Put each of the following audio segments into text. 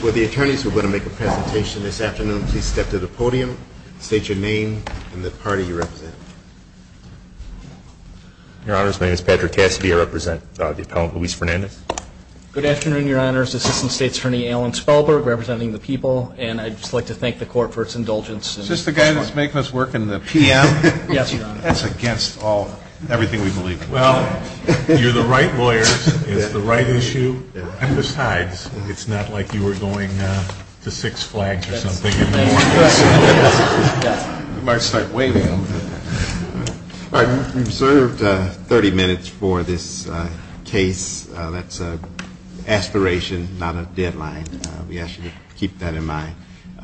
with the attorneys who are going to make a presentation this afternoon, please step to the podium, state your name and the party you represent. Your honors, my name is Patrick Cassidy, I represent the appellant Luis Fernandez. Good afternoon, your honors, Assistant State's Attorney Alan Spellberg representing the people, and I'd just like to thank the court for its indulgence. Is this the guy that's making us work in the PM? Yes, your honor. That's against all, everything we believe in. Well, you're the right lawyers, it's the right issue, and besides, it's not like you were going to Six Flags or something in the morning. You might start waving. All right, you've reserved 30 minutes for this case. That's an aspiration, not a deadline. We ask you to keep that in mind.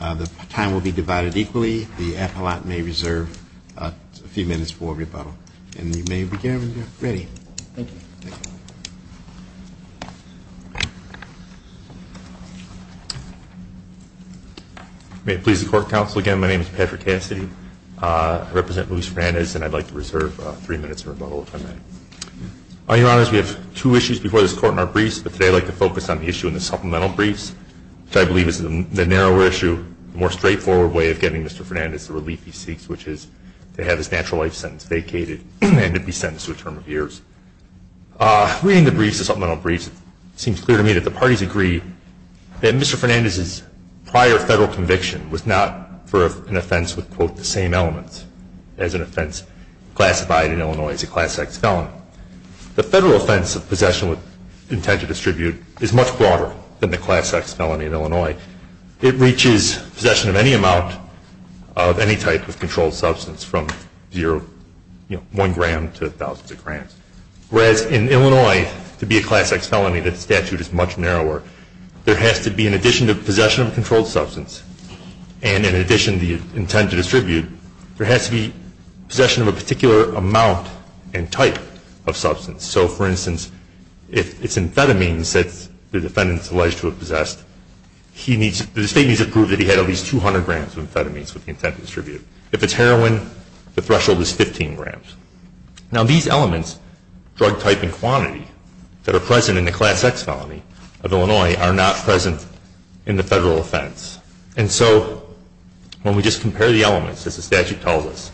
The time will be divided equally. The appellant may reserve a few minutes for rebuttal. And you may begin when you're ready. Thank you. May it please the court, counsel, again, my name is Patrick Cassidy. I represent Luis Fernandez, and I'd like to reserve three minutes for rebuttal, if I may. Your honors, we have two issues before this court in our briefs, but today I'd like to focus on the issue in the supplemental briefs, which I believe is the narrower issue, the more straightforward way of getting Mr. Fernandez the relief he seeks, which is to have his natural life sentence vacated and to be sentenced to a term of years. Reading the briefs, the supplemental briefs, it seems clear to me that the parties agree that Mr. Fernandez's prior federal conviction was not for an offense with, quote, the same elements as an offense classified in Illinois as a Class X felony. The federal offense of possession with intent to distribute is much broader than the Class X felony in Illinois. It reaches possession of any amount of any type of controlled substance from one gram to thousands of grams. Whereas in Illinois, to be a Class X felony, the statute is much narrower. There has to be, in addition to possession of a controlled substance, and in addition to the intent to distribute, there has to be possession of a particular amount and type of substance. So, for instance, if it's amphetamines that the defendant is alleged to have possessed, the state needs to prove that he had at least 200 grams of amphetamines with the intent to distribute. If it's heroin, the threshold is 15 grams. Now, these elements, drug type and quantity, that are present in the Class X felony of Illinois are not present in the federal offense. And so when we just compare the elements, as the statute tells us,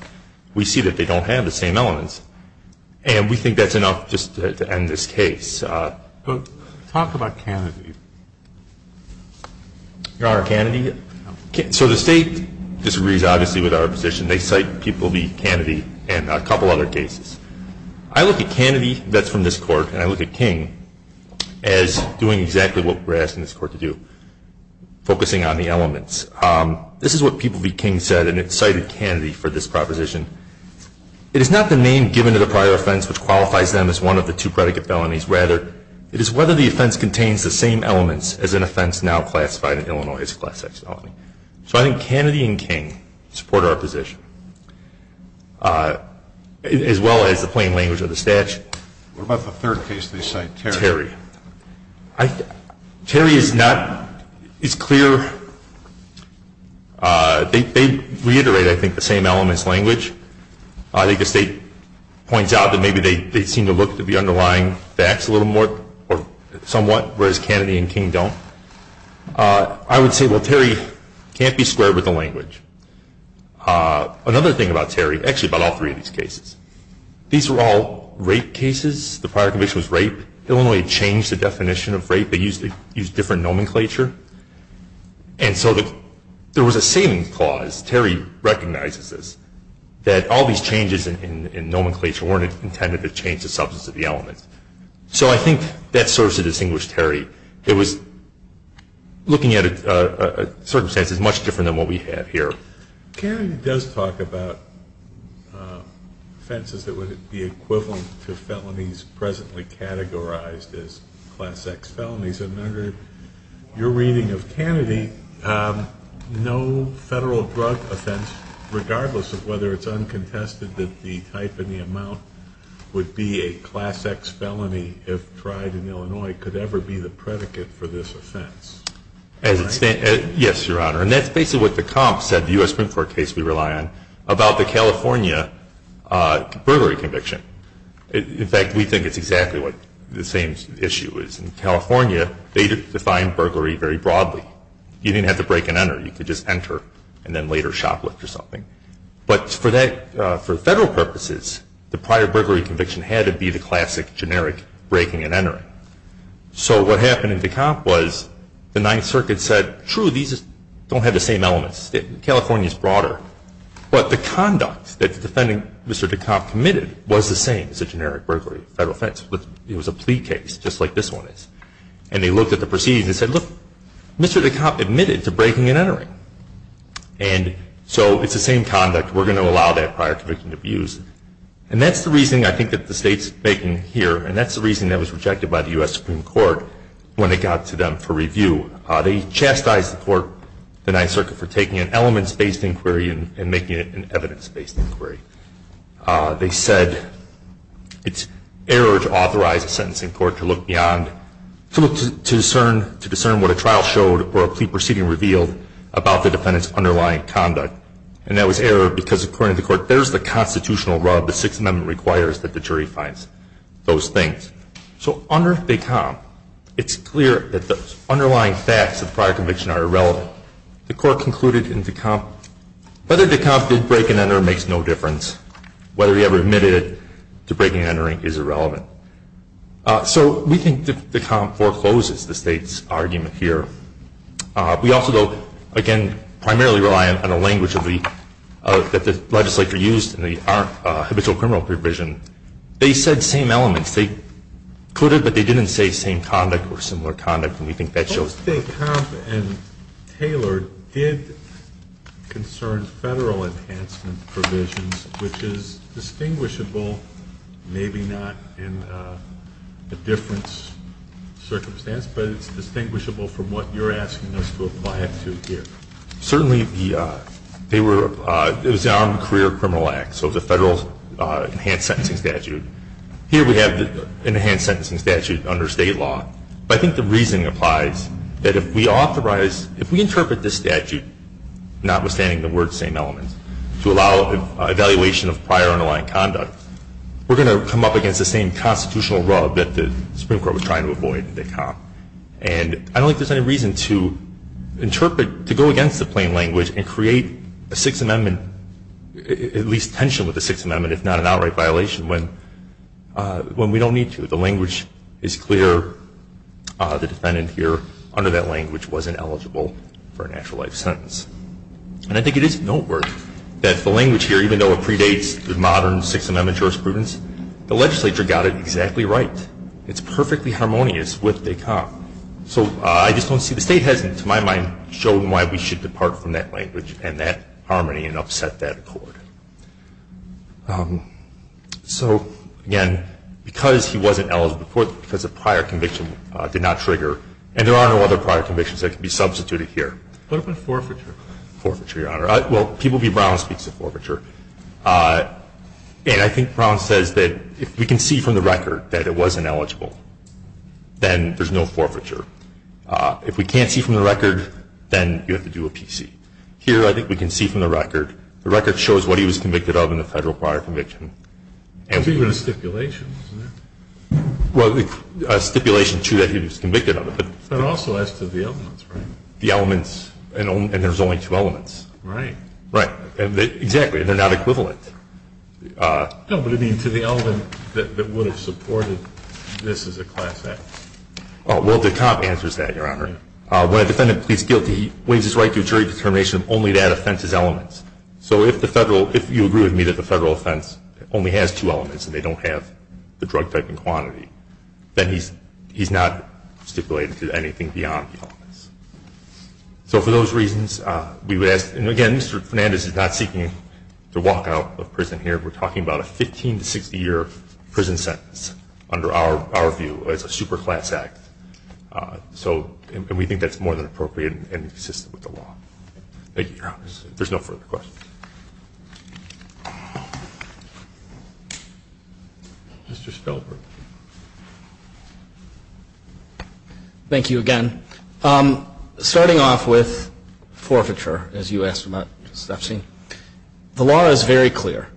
we see that they don't have the same elements. And we think that's enough just to end this case. But talk about Kennedy. Your Honor, Kennedy, so the state disagrees, obviously, with our position. They cite people to be Kennedy and a couple other cases. I look at Kennedy that's from this Court, and I look at King as doing exactly what we're asking this Court to do, focusing on the elements. This is what People v. King said, and it cited Kennedy for this proposition. It is not the name given to the prior offense which qualifies them as one of the two predicate felonies. Rather, it is whether the offense contains the same elements as an offense now classified in Illinois as a Class X felony. So I think Kennedy and King support our position, as well as the plain language of the statute. What about the third case they cite, Terry? Terry is clear. They reiterate, I think, the same elements language. I think the state points out that maybe they seem to look to be underlying facts a little more or somewhat, whereas Kennedy and King don't. I would say, well, Terry can't be squared with the language. Another thing about Terry, actually about all three of these cases, these were all rape cases. The prior conviction was rape. Illinois changed the definition of rape. They used different nomenclature. And so there was a saving clause, Terry recognizes this, that all these changes in nomenclature weren't intended to change the substance of the elements. So I think that serves to distinguish Terry. It was looking at circumstances much different than what we have here. Kennedy does talk about offenses that would be equivalent to felonies presently categorized as Class X felonies. And under your reading of Kennedy, no federal drug offense, regardless of whether it's uncontested that the type and the amount would be a Class X felony if tried in Illinois, could ever be the predicate for this offense. Yes, Your Honor. And that's basically what the comp said, the U.S. Supreme Court case we rely on, about the California burglary conviction. In fact, we think it's exactly what the same issue is. In California, they defined burglary very broadly. You didn't have to break and enter. You could just enter and then later shoplift or something. But for federal purposes, the prior burglary conviction had to be the classic generic breaking and entering. So what happened in DeKalb was the Ninth Circuit said, true, these don't have the same elements. California is broader. But the conduct that the defendant, Mr. DeKalb, committed was the same as a generic burglary federal offense. It was a plea case just like this one is. And they looked at the proceedings and said, look, Mr. DeKalb admitted to breaking and entering. And so it's the same conduct. We're going to allow that prior conviction to be used. And that's the reasoning I think that the State's making here. And that's the reason that was rejected by the U.S. Supreme Court when it got to them for review. They chastised the court, the Ninth Circuit, for taking an elements-based inquiry and making it an evidence-based inquiry. They said it's error to authorize a sentence in court to look beyond, to discern what a trial showed or a plea proceeding revealed about the defendant's underlying conduct. And that was error because, according to the court, there's the constitutional rub the Sixth Amendment requires that the jury finds those things. So under DeKalb, it's clear that the underlying facts of prior conviction are irrelevant. The court concluded in DeKalb, whether DeKalb did break and enter makes no difference. Whether he ever admitted to breaking and entering is irrelevant. So we think DeKalb forecloses the State's argument here. We also, though, again, primarily rely on the language that the legislature used in the habitual criminal provision. They said same elements. They could have, but they didn't say same conduct or similar conduct. And we think that shows. I think Tom and Taylor did concern federal enhancement provisions, which is distinguishable, maybe not in a difference circumstance, but it's distinguishable from what you're asking us to apply it to here. Certainly, they were, it was the Armed Career Criminal Act, so the federal enhanced sentencing statute. Here we have the enhanced sentencing statute under State law. But I think the reasoning applies that if we authorize, if we interpret this statute, notwithstanding the word same elements, to allow evaluation of prior and underlying conduct, we're going to come up against the same constitutional rub that the Supreme Court was trying to avoid in DeKalb. And I don't think there's any reason to interpret, to go against the plain language and create a Sixth Amendment, at least tension with the Sixth Amendment, if not an outright violation, when we don't need to. The language is clear. The defendant here, under that language, wasn't eligible for a natural life sentence. And I think it is noteworthy that the language here, even though it predates the modern Sixth Amendment jurisprudence, the legislature got it exactly right. It's perfectly harmonious with DeKalb. So I just don't see, the State hasn't, to my mind, shown why we should depart from that language and that harmony and upset that accord. So, again, because he wasn't eligible, because the prior conviction did not trigger, and there are no other prior convictions that can be substituted here. What about forfeiture? Forfeiture, Your Honor. Well, P. B. Brown speaks of forfeiture. And I think Brown says that if we can see from the record that it wasn't eligible, then there's no forfeiture. If we can't see from the record, then you have to do a PC. Here, I think we can see from the record. The record shows what he was convicted of in the Federal prior conviction. It's even a stipulation, isn't it? Well, a stipulation, too, that he was convicted of it. But also as to the elements, right? The elements, and there's only two elements. Right. Exactly. They're not equivalent. No, but, I mean, to the element that would have supported this as a class act. Well, DeKalb answers that, Your Honor. When a defendant pleads guilty, he wins his right to a jury determination if only that offense is elements. So if the Federal, if you agree with me that the Federal offense only has two elements and they don't have the drug typing quantity, then he's not stipulated to anything beyond the elements. So for those reasons, we would ask, and again, Mr. Fernandez is not seeking to walk out of prison here. We're talking about a 15- to 60-year prison sentence under our view as a super class act. So, and we think that's more than appropriate and consistent with the law. Thank you, Your Honor. There's no further questions. Mr. Spellberg. Thank you again. Starting off with forfeiture, as you asked about, Justice Epstein. The law is very clear.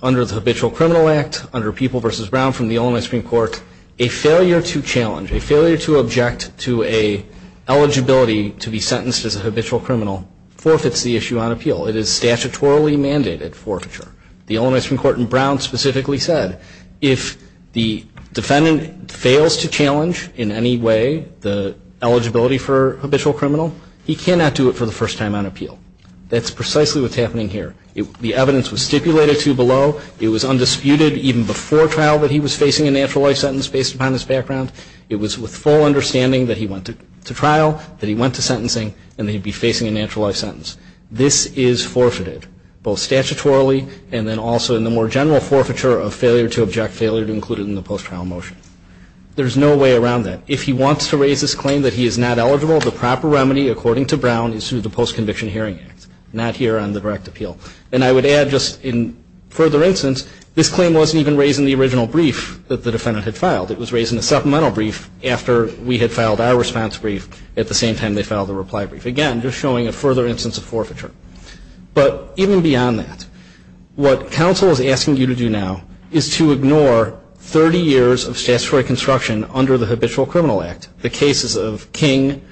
Under the Habitual Criminal Act, under People v. Brown from the Illinois Supreme Court, a failure to challenge, a failure to object to an eligibility to be sentenced as a habitual criminal forfeits the issue on appeal. It is statutorily mandated forfeiture. The Illinois Supreme Court in Brown specifically said if the defendant fails to challenge in any way the eligibility for habitual criminal, he cannot do it for the first time on appeal. That's precisely what's happening here. The evidence was stipulated to below. It was undisputed even before trial that he was facing a natural life sentence based upon his background. It was with full understanding that he went to trial, that he went to sentencing, and that he'd be facing a natural life sentence. This is forfeited, both statutorily and then also in the more general forfeiture of failure to object, failure to include it in the post-trial motion. There's no way around that. If he wants to raise his claim that he is not eligible, the proper remedy, according to Brown, is through the Post-Conviction Hearing Act, not here on the direct appeal. And I would add just in further instance, this claim wasn't even raised in the original brief that the defendant had filed. It was raised in the supplemental brief after we had filed our response brief at the same time they filed the reply brief. Again, just showing a further instance of forfeiture. But even beyond that, what counsel is asking you to do now is to ignore 30 years of statutory construction under the Habitual Criminal Act. The cases of King,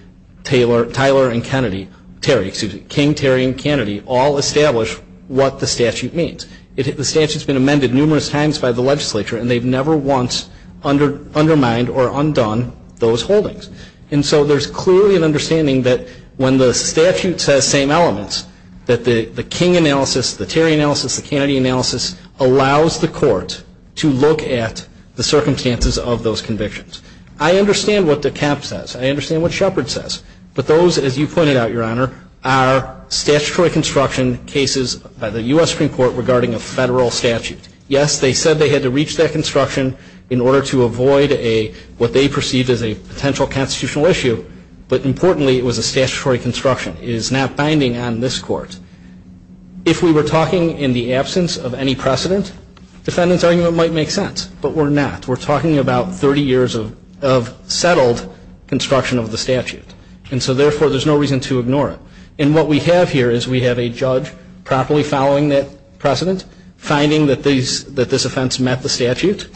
Taylor, Tyler, and Kennedy, Terry, excuse me, King, Terry, and Kennedy all establish what the statute means. The statute's been amended numerous times by the legislature, and they've never once undermined or undone those holdings. And so there's clearly an understanding that when the statute says same elements, that the King analysis, the Terry analysis, the Kennedy analysis allows the court to look at the circumstances of those convictions. I understand what DeKalb says. I understand what Shepard says. But those, as you pointed out, Your Honor, are statutory construction cases by the U.S. Supreme Court regarding a federal statute. Yes, they said they had to reach that construction in order to avoid a, what they perceived as a potential constitutional issue. But importantly, it was a statutory construction. It is not binding on this Court. If we were talking in the absence of any precedent, defendant's argument might make sense. But we're not. We're talking about 30 years of settled construction of the statute. And so, therefore, there's no reason to ignore it. And what we have here is we have a judge properly following that precedent, finding that this offense met the statute,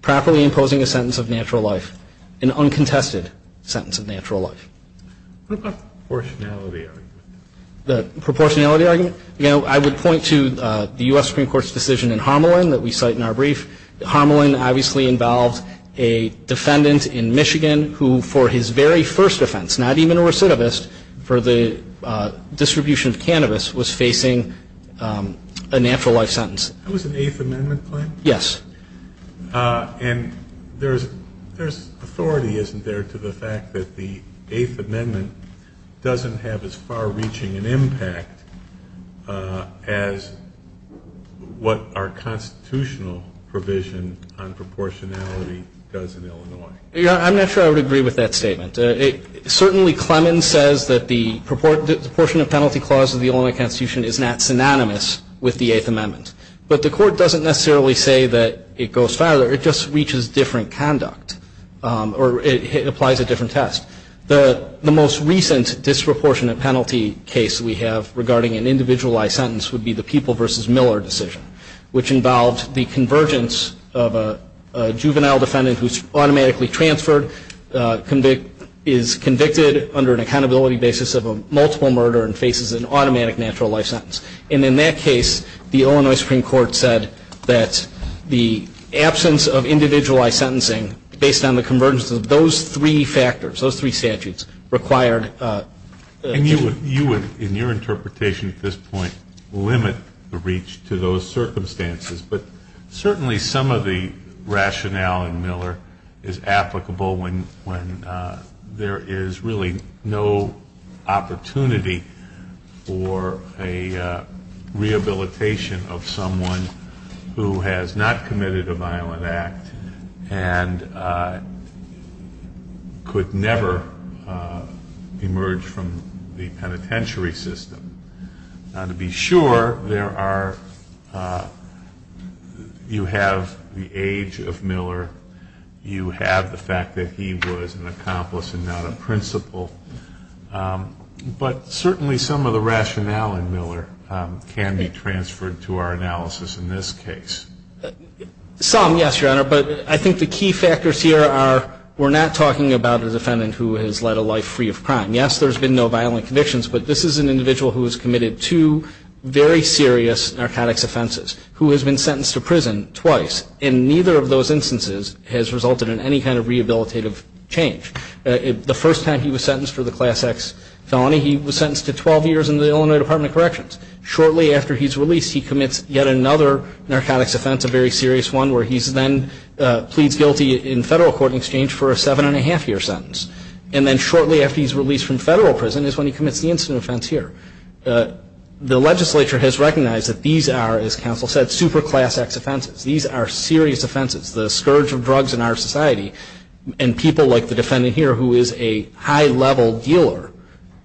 properly imposing a sentence of natural life, an uncontested sentence of natural life. Proportionality argument. The proportionality argument? You know, I would point to the U.S. Supreme Court's decision in Homelin that we cite in our brief. Homelin obviously involved a defendant in Michigan who, for his very first offense, not even a recidivist for the distribution of cannabis, was facing a natural life sentence. That was an Eighth Amendment claim? Yes. And there's authority, isn't there, to the fact that the Eighth Amendment doesn't have as far-reaching an impact as what our constitutional provision on proportionality does in Illinois? Your Honor, I'm not sure I would agree with that statement. Certainly, Clemens says that the proportionate penalty clause of the Illinois Constitution is not synonymous with the Eighth Amendment. But the Court doesn't necessarily say that it goes farther. It just reaches different conduct, or it applies a different test. The most recent disproportionate penalty case we have regarding an individualized sentence would be the People v. Miller decision, which involved the convergence of a juvenile defendant who's automatically transferred, is convicted under an accountability basis of a multiple murder, and faces an automatic natural life sentence. And in that case, the Illinois Supreme Court said that the absence of individualized sentencing, based on the convergence of those three factors, those three statutes, required. And you would, in your interpretation at this point, limit the reach to those circumstances. But certainly some of the rationale in Miller is applicable when there is really no opportunity for a rehabilitation of someone who has not committed a violent act and could never emerge from the penitentiary system. Now, to be sure, there are, you have the age of Miller, you have the fact that he was an accomplice and not a principal. But certainly some of the rationale in Miller can be transferred to our analysis in this case. Some, yes, Your Honor. But I think the key factors here are we're not talking about a defendant who has led a life free of crime. Yes, there's been no violent convictions. But this is an individual who has committed two very serious narcotics offenses, who has been sentenced to prison twice. And neither of those instances has resulted in any kind of rehabilitative change. The first time he was sentenced for the Class X felony, he was sentenced to 12 years in the Illinois Department of Corrections. Shortly after he's released, he commits yet another narcotics offense, a very serious one, where he's then pleads guilty in federal court in exchange for a seven-and-a-half-year sentence. And then shortly after he's released from federal prison is when he commits the incident offense here. The legislature has recognized that these are, as counsel said, super Class X offenses. These are serious offenses. The scourge of drugs in our society and people like the defendant here who is a high-level dealer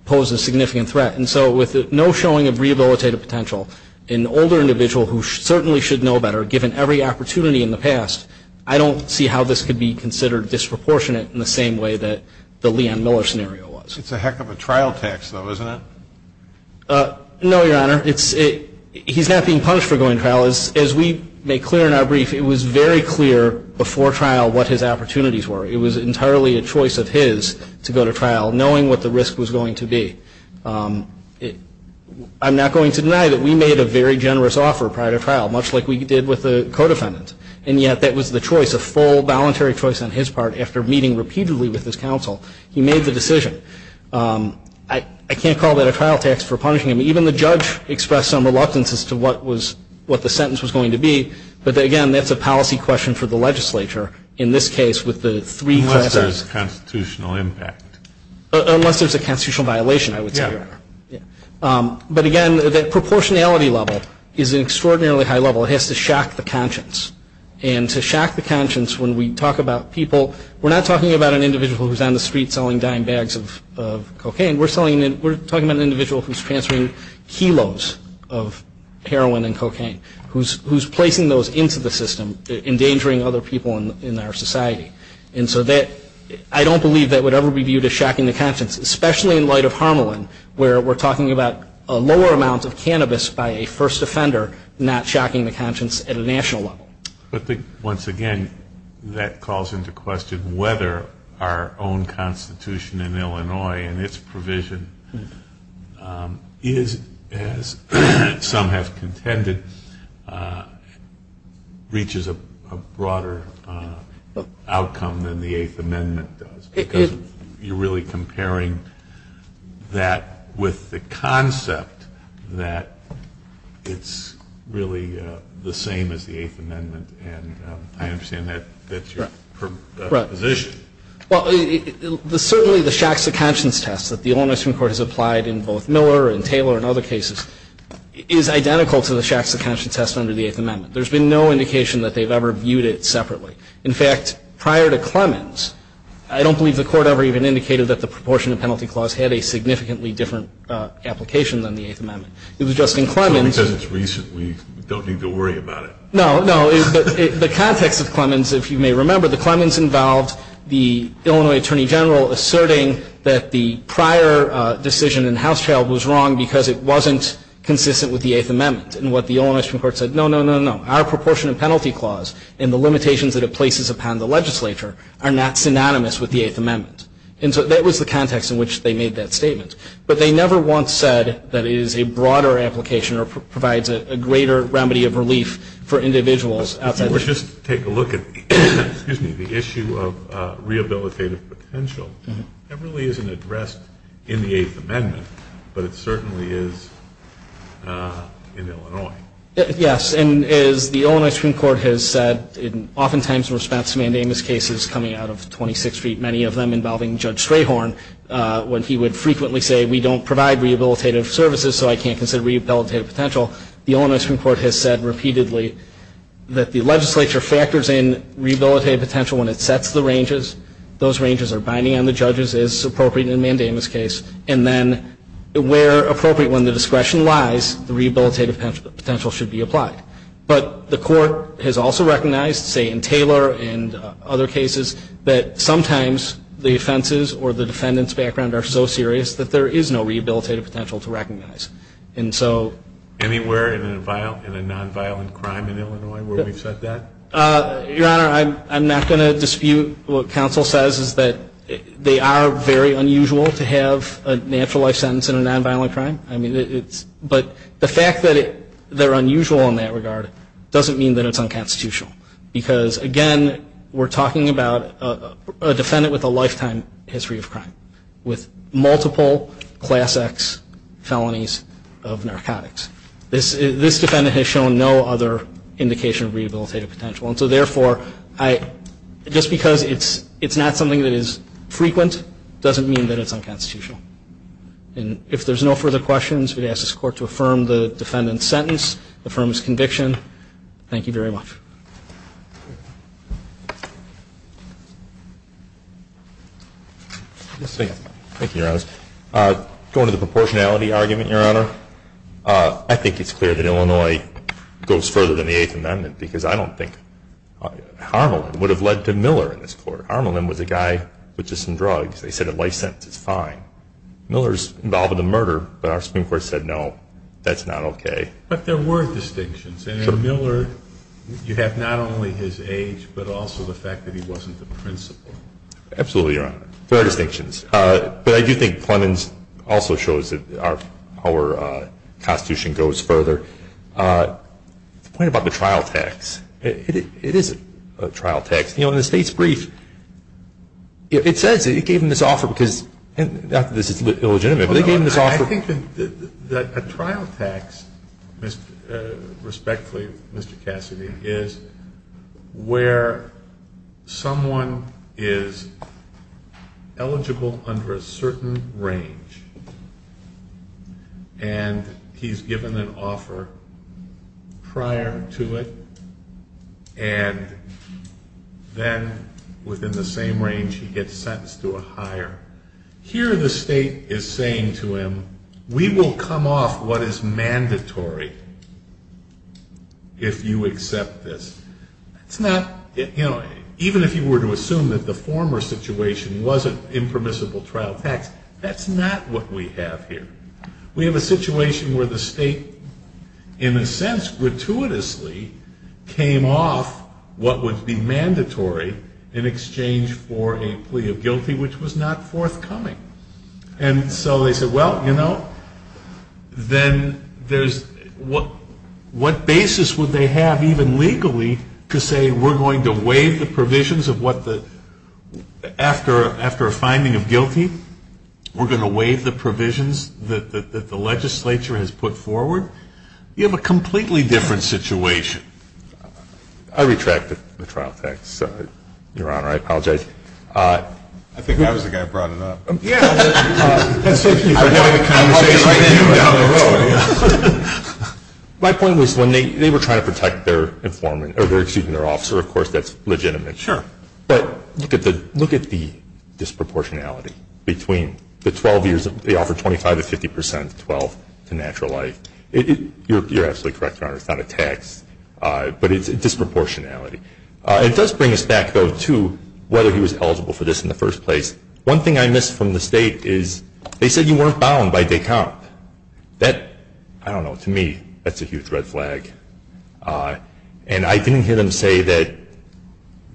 pose a significant threat. And so with no showing of rehabilitative potential, an older individual who certainly should know better, given every opportunity in the past, I don't see how this could be considered disproportionate in the same way that the Leon Miller scenario was. It's a heck of a trial tax, though, isn't it? No, Your Honor. He's not being punished for going to trial. As we make clear in our brief, it was very clear before trial what his opportunities were. It was entirely a choice of his to go to trial, knowing what the risk was going to be. I'm not going to deny that we made a very generous offer prior to trial, much like we did with the co-defendant. And yet that was the choice, a full, voluntary choice on his part. After meeting repeatedly with his counsel, he made the decision. I can't call that a trial tax for punishing him. Even the judge expressed some reluctance as to what the sentence was going to be. But, again, that's a policy question for the legislature in this case with the three classes. Unless there's a constitutional impact. Unless there's a constitutional violation, I would say, Your Honor. But, again, that proportionality level is an extraordinarily high level. It has to shock the conscience. And to shock the conscience when we talk about people, we're not talking about an individual who's on the street selling dying bags of cocaine. We're talking about an individual who's transferring kilos of heroin and cocaine, who's placing those into the system, endangering other people in our society. And so I don't believe that would ever be viewed as shocking the conscience, especially in light of Harmelin, where we're talking about a lower amount of cannabis by a first offender, not shocking the conscience at a national level. But, once again, that calls into question whether our own constitution in Illinois and its provision is, as some have contended, reaches a broader outcome than the Eighth Amendment does. Because you're really comparing that with the concept that it's really the same as the Eighth Amendment. And I understand that's your position. Right. Well, certainly the shocks the conscience test that the Illinois Supreme Court has applied in both Miller and Taylor and other cases is identical to the shocks the conscience test under the Eighth Amendment. There's been no indication that they've ever viewed it separately. In fact, prior to Clemens, I don't believe the court ever even indicated that the proportion of penalty clause had a significantly different application than the Eighth Amendment. It was just in Clemens. Because it's recent. We don't need to worry about it. No, no. The context of Clemens, if you may remember, the Clemens involved the Illinois Attorney General asserting that the prior decision in Housetrail was wrong because it wasn't consistent with the Eighth Amendment. And what the Illinois Supreme Court said, no, no, no, no. Our proportion of penalty clause and the limitations that it places upon the legislature are not synonymous with the Eighth Amendment. And so that was the context in which they made that statement. But they never once said that it is a broader application or provides a greater remedy of relief for individuals. Just take a look at the issue of rehabilitative potential. That really isn't addressed in the Eighth Amendment, but it certainly is in Illinois. Yes. And as the Illinois Supreme Court has said oftentimes in response to mandamus cases coming out of 26th Street, many of them involving Judge Strayhorn, when he would frequently say we don't provide rehabilitative services so I can't consider rehabilitative potential, the Illinois Supreme Court has said repeatedly that the legislature factors in rehabilitative potential when it sets the ranges. Those ranges are binding on the judges as appropriate in a mandamus case. And then where appropriate, when the discretion lies, the rehabilitative potential should be applied. But the court has also recognized, say in Taylor and other cases, that sometimes the offenses or the defendant's background are so serious that there is no rehabilitative potential to recognize. Anywhere in a nonviolent crime in Illinois where we've said that? Your Honor, I'm not going to dispute what counsel says, that they are very unusual to have a natural life sentence in a nonviolent crime. But the fact that they're unusual in that regard doesn't mean that it's unconstitutional. Because, again, we're talking about a defendant with a lifetime history of crime with multiple Class X felonies of narcotics. This defendant has shown no other indication of rehabilitative potential. And so, therefore, just because it's not something that is frequent doesn't mean that it's unconstitutional. And if there's no further questions, we ask this Court to affirm the defendant's sentence, affirm his conviction. Thank you very much. Thank you, Your Honor. Going to the proportionality argument, Your Honor, I think it's clear that Illinois goes further than the Eighth Amendment because I don't think Harmelin would have led to Miller in this Court. Harmelin was a guy with just some drugs. They said a life sentence is fine. Miller's involved in the murder, but our Supreme Court said, no, that's not okay. But there were distinctions. In Miller, you have not only his age, but also the fact that he wasn't the principal. Absolutely, Your Honor. There are distinctions. But I do think Plemons also shows that our Constitution goes further. The point about the trial text, it is a trial text. You know, in the State's brief, it says it gave him this offer because, not that this is illegitimate, but they gave him this offer. I think that a trial text, respectfully, Mr. Cassidy, is where someone is eligible under a certain range and he's given an offer prior to it, and then, within the same range, he gets sentenced to a hire. Here, the State is saying to him, we will come off what is mandatory if you accept this. Even if you were to assume that the former situation wasn't impermissible trial text, that's not what we have here. We have a situation where the State, in a sense, gratuitously, came off what would be mandatory in exchange for a plea of guilty, which was not forthcoming. And so they said, well, you know, then what basis would they have, even legally, to say we're going to waive the provisions of what the, after a finding of guilty, we're going to waive the provisions that the legislature has put forward? You have a completely different situation. I retract the trial text, Your Honor. I apologize. I think I was the guy who brought it up. Yeah. That's just me having a conversation with you down the road. My point was when they were trying to protect their informant, or excuse me, their officer, of course, that's legitimate. Sure. But look at the disproportionality between the 12 years, they offered 25 to 50 percent, 12, to natural life. You're absolutely correct, Your Honor. It's not a tax, but it's a disproportionality. It does bring us back, though, to whether he was eligible for this in the first place. One thing I missed from the State is they said you weren't bound by de compte. That, I don't know, to me, that's a huge red flag. And I didn't hear them say that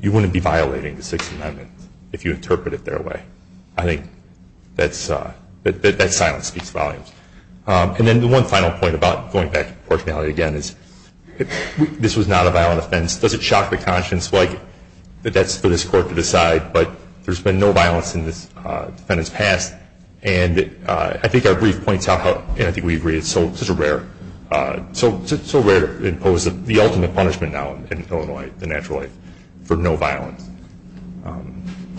you wouldn't be violating the Sixth Amendment if you interpret it their way. I think that silence speaks volumes. And then the one final point about going back to proportionality again is this was not a violent offense. Does it shock the conscience that that's for this Court to decide, but there's been no violence in this defendant's past? And I think our brief points out, and I think we agree, it's so rare to impose the ultimate punishment now in Illinois, the natural life, for no violence.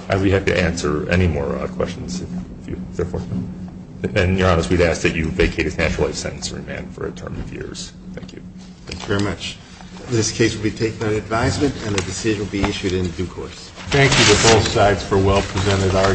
I would be happy to answer any more questions if you're fortunate. And, Your Honor, we'd ask that you vacate his natural life sentence for a term of years. Thank you. Thank you very much. This case will be taken on advisement, and the decision will be issued in due course. Thank you to both sides for a well-presented argument.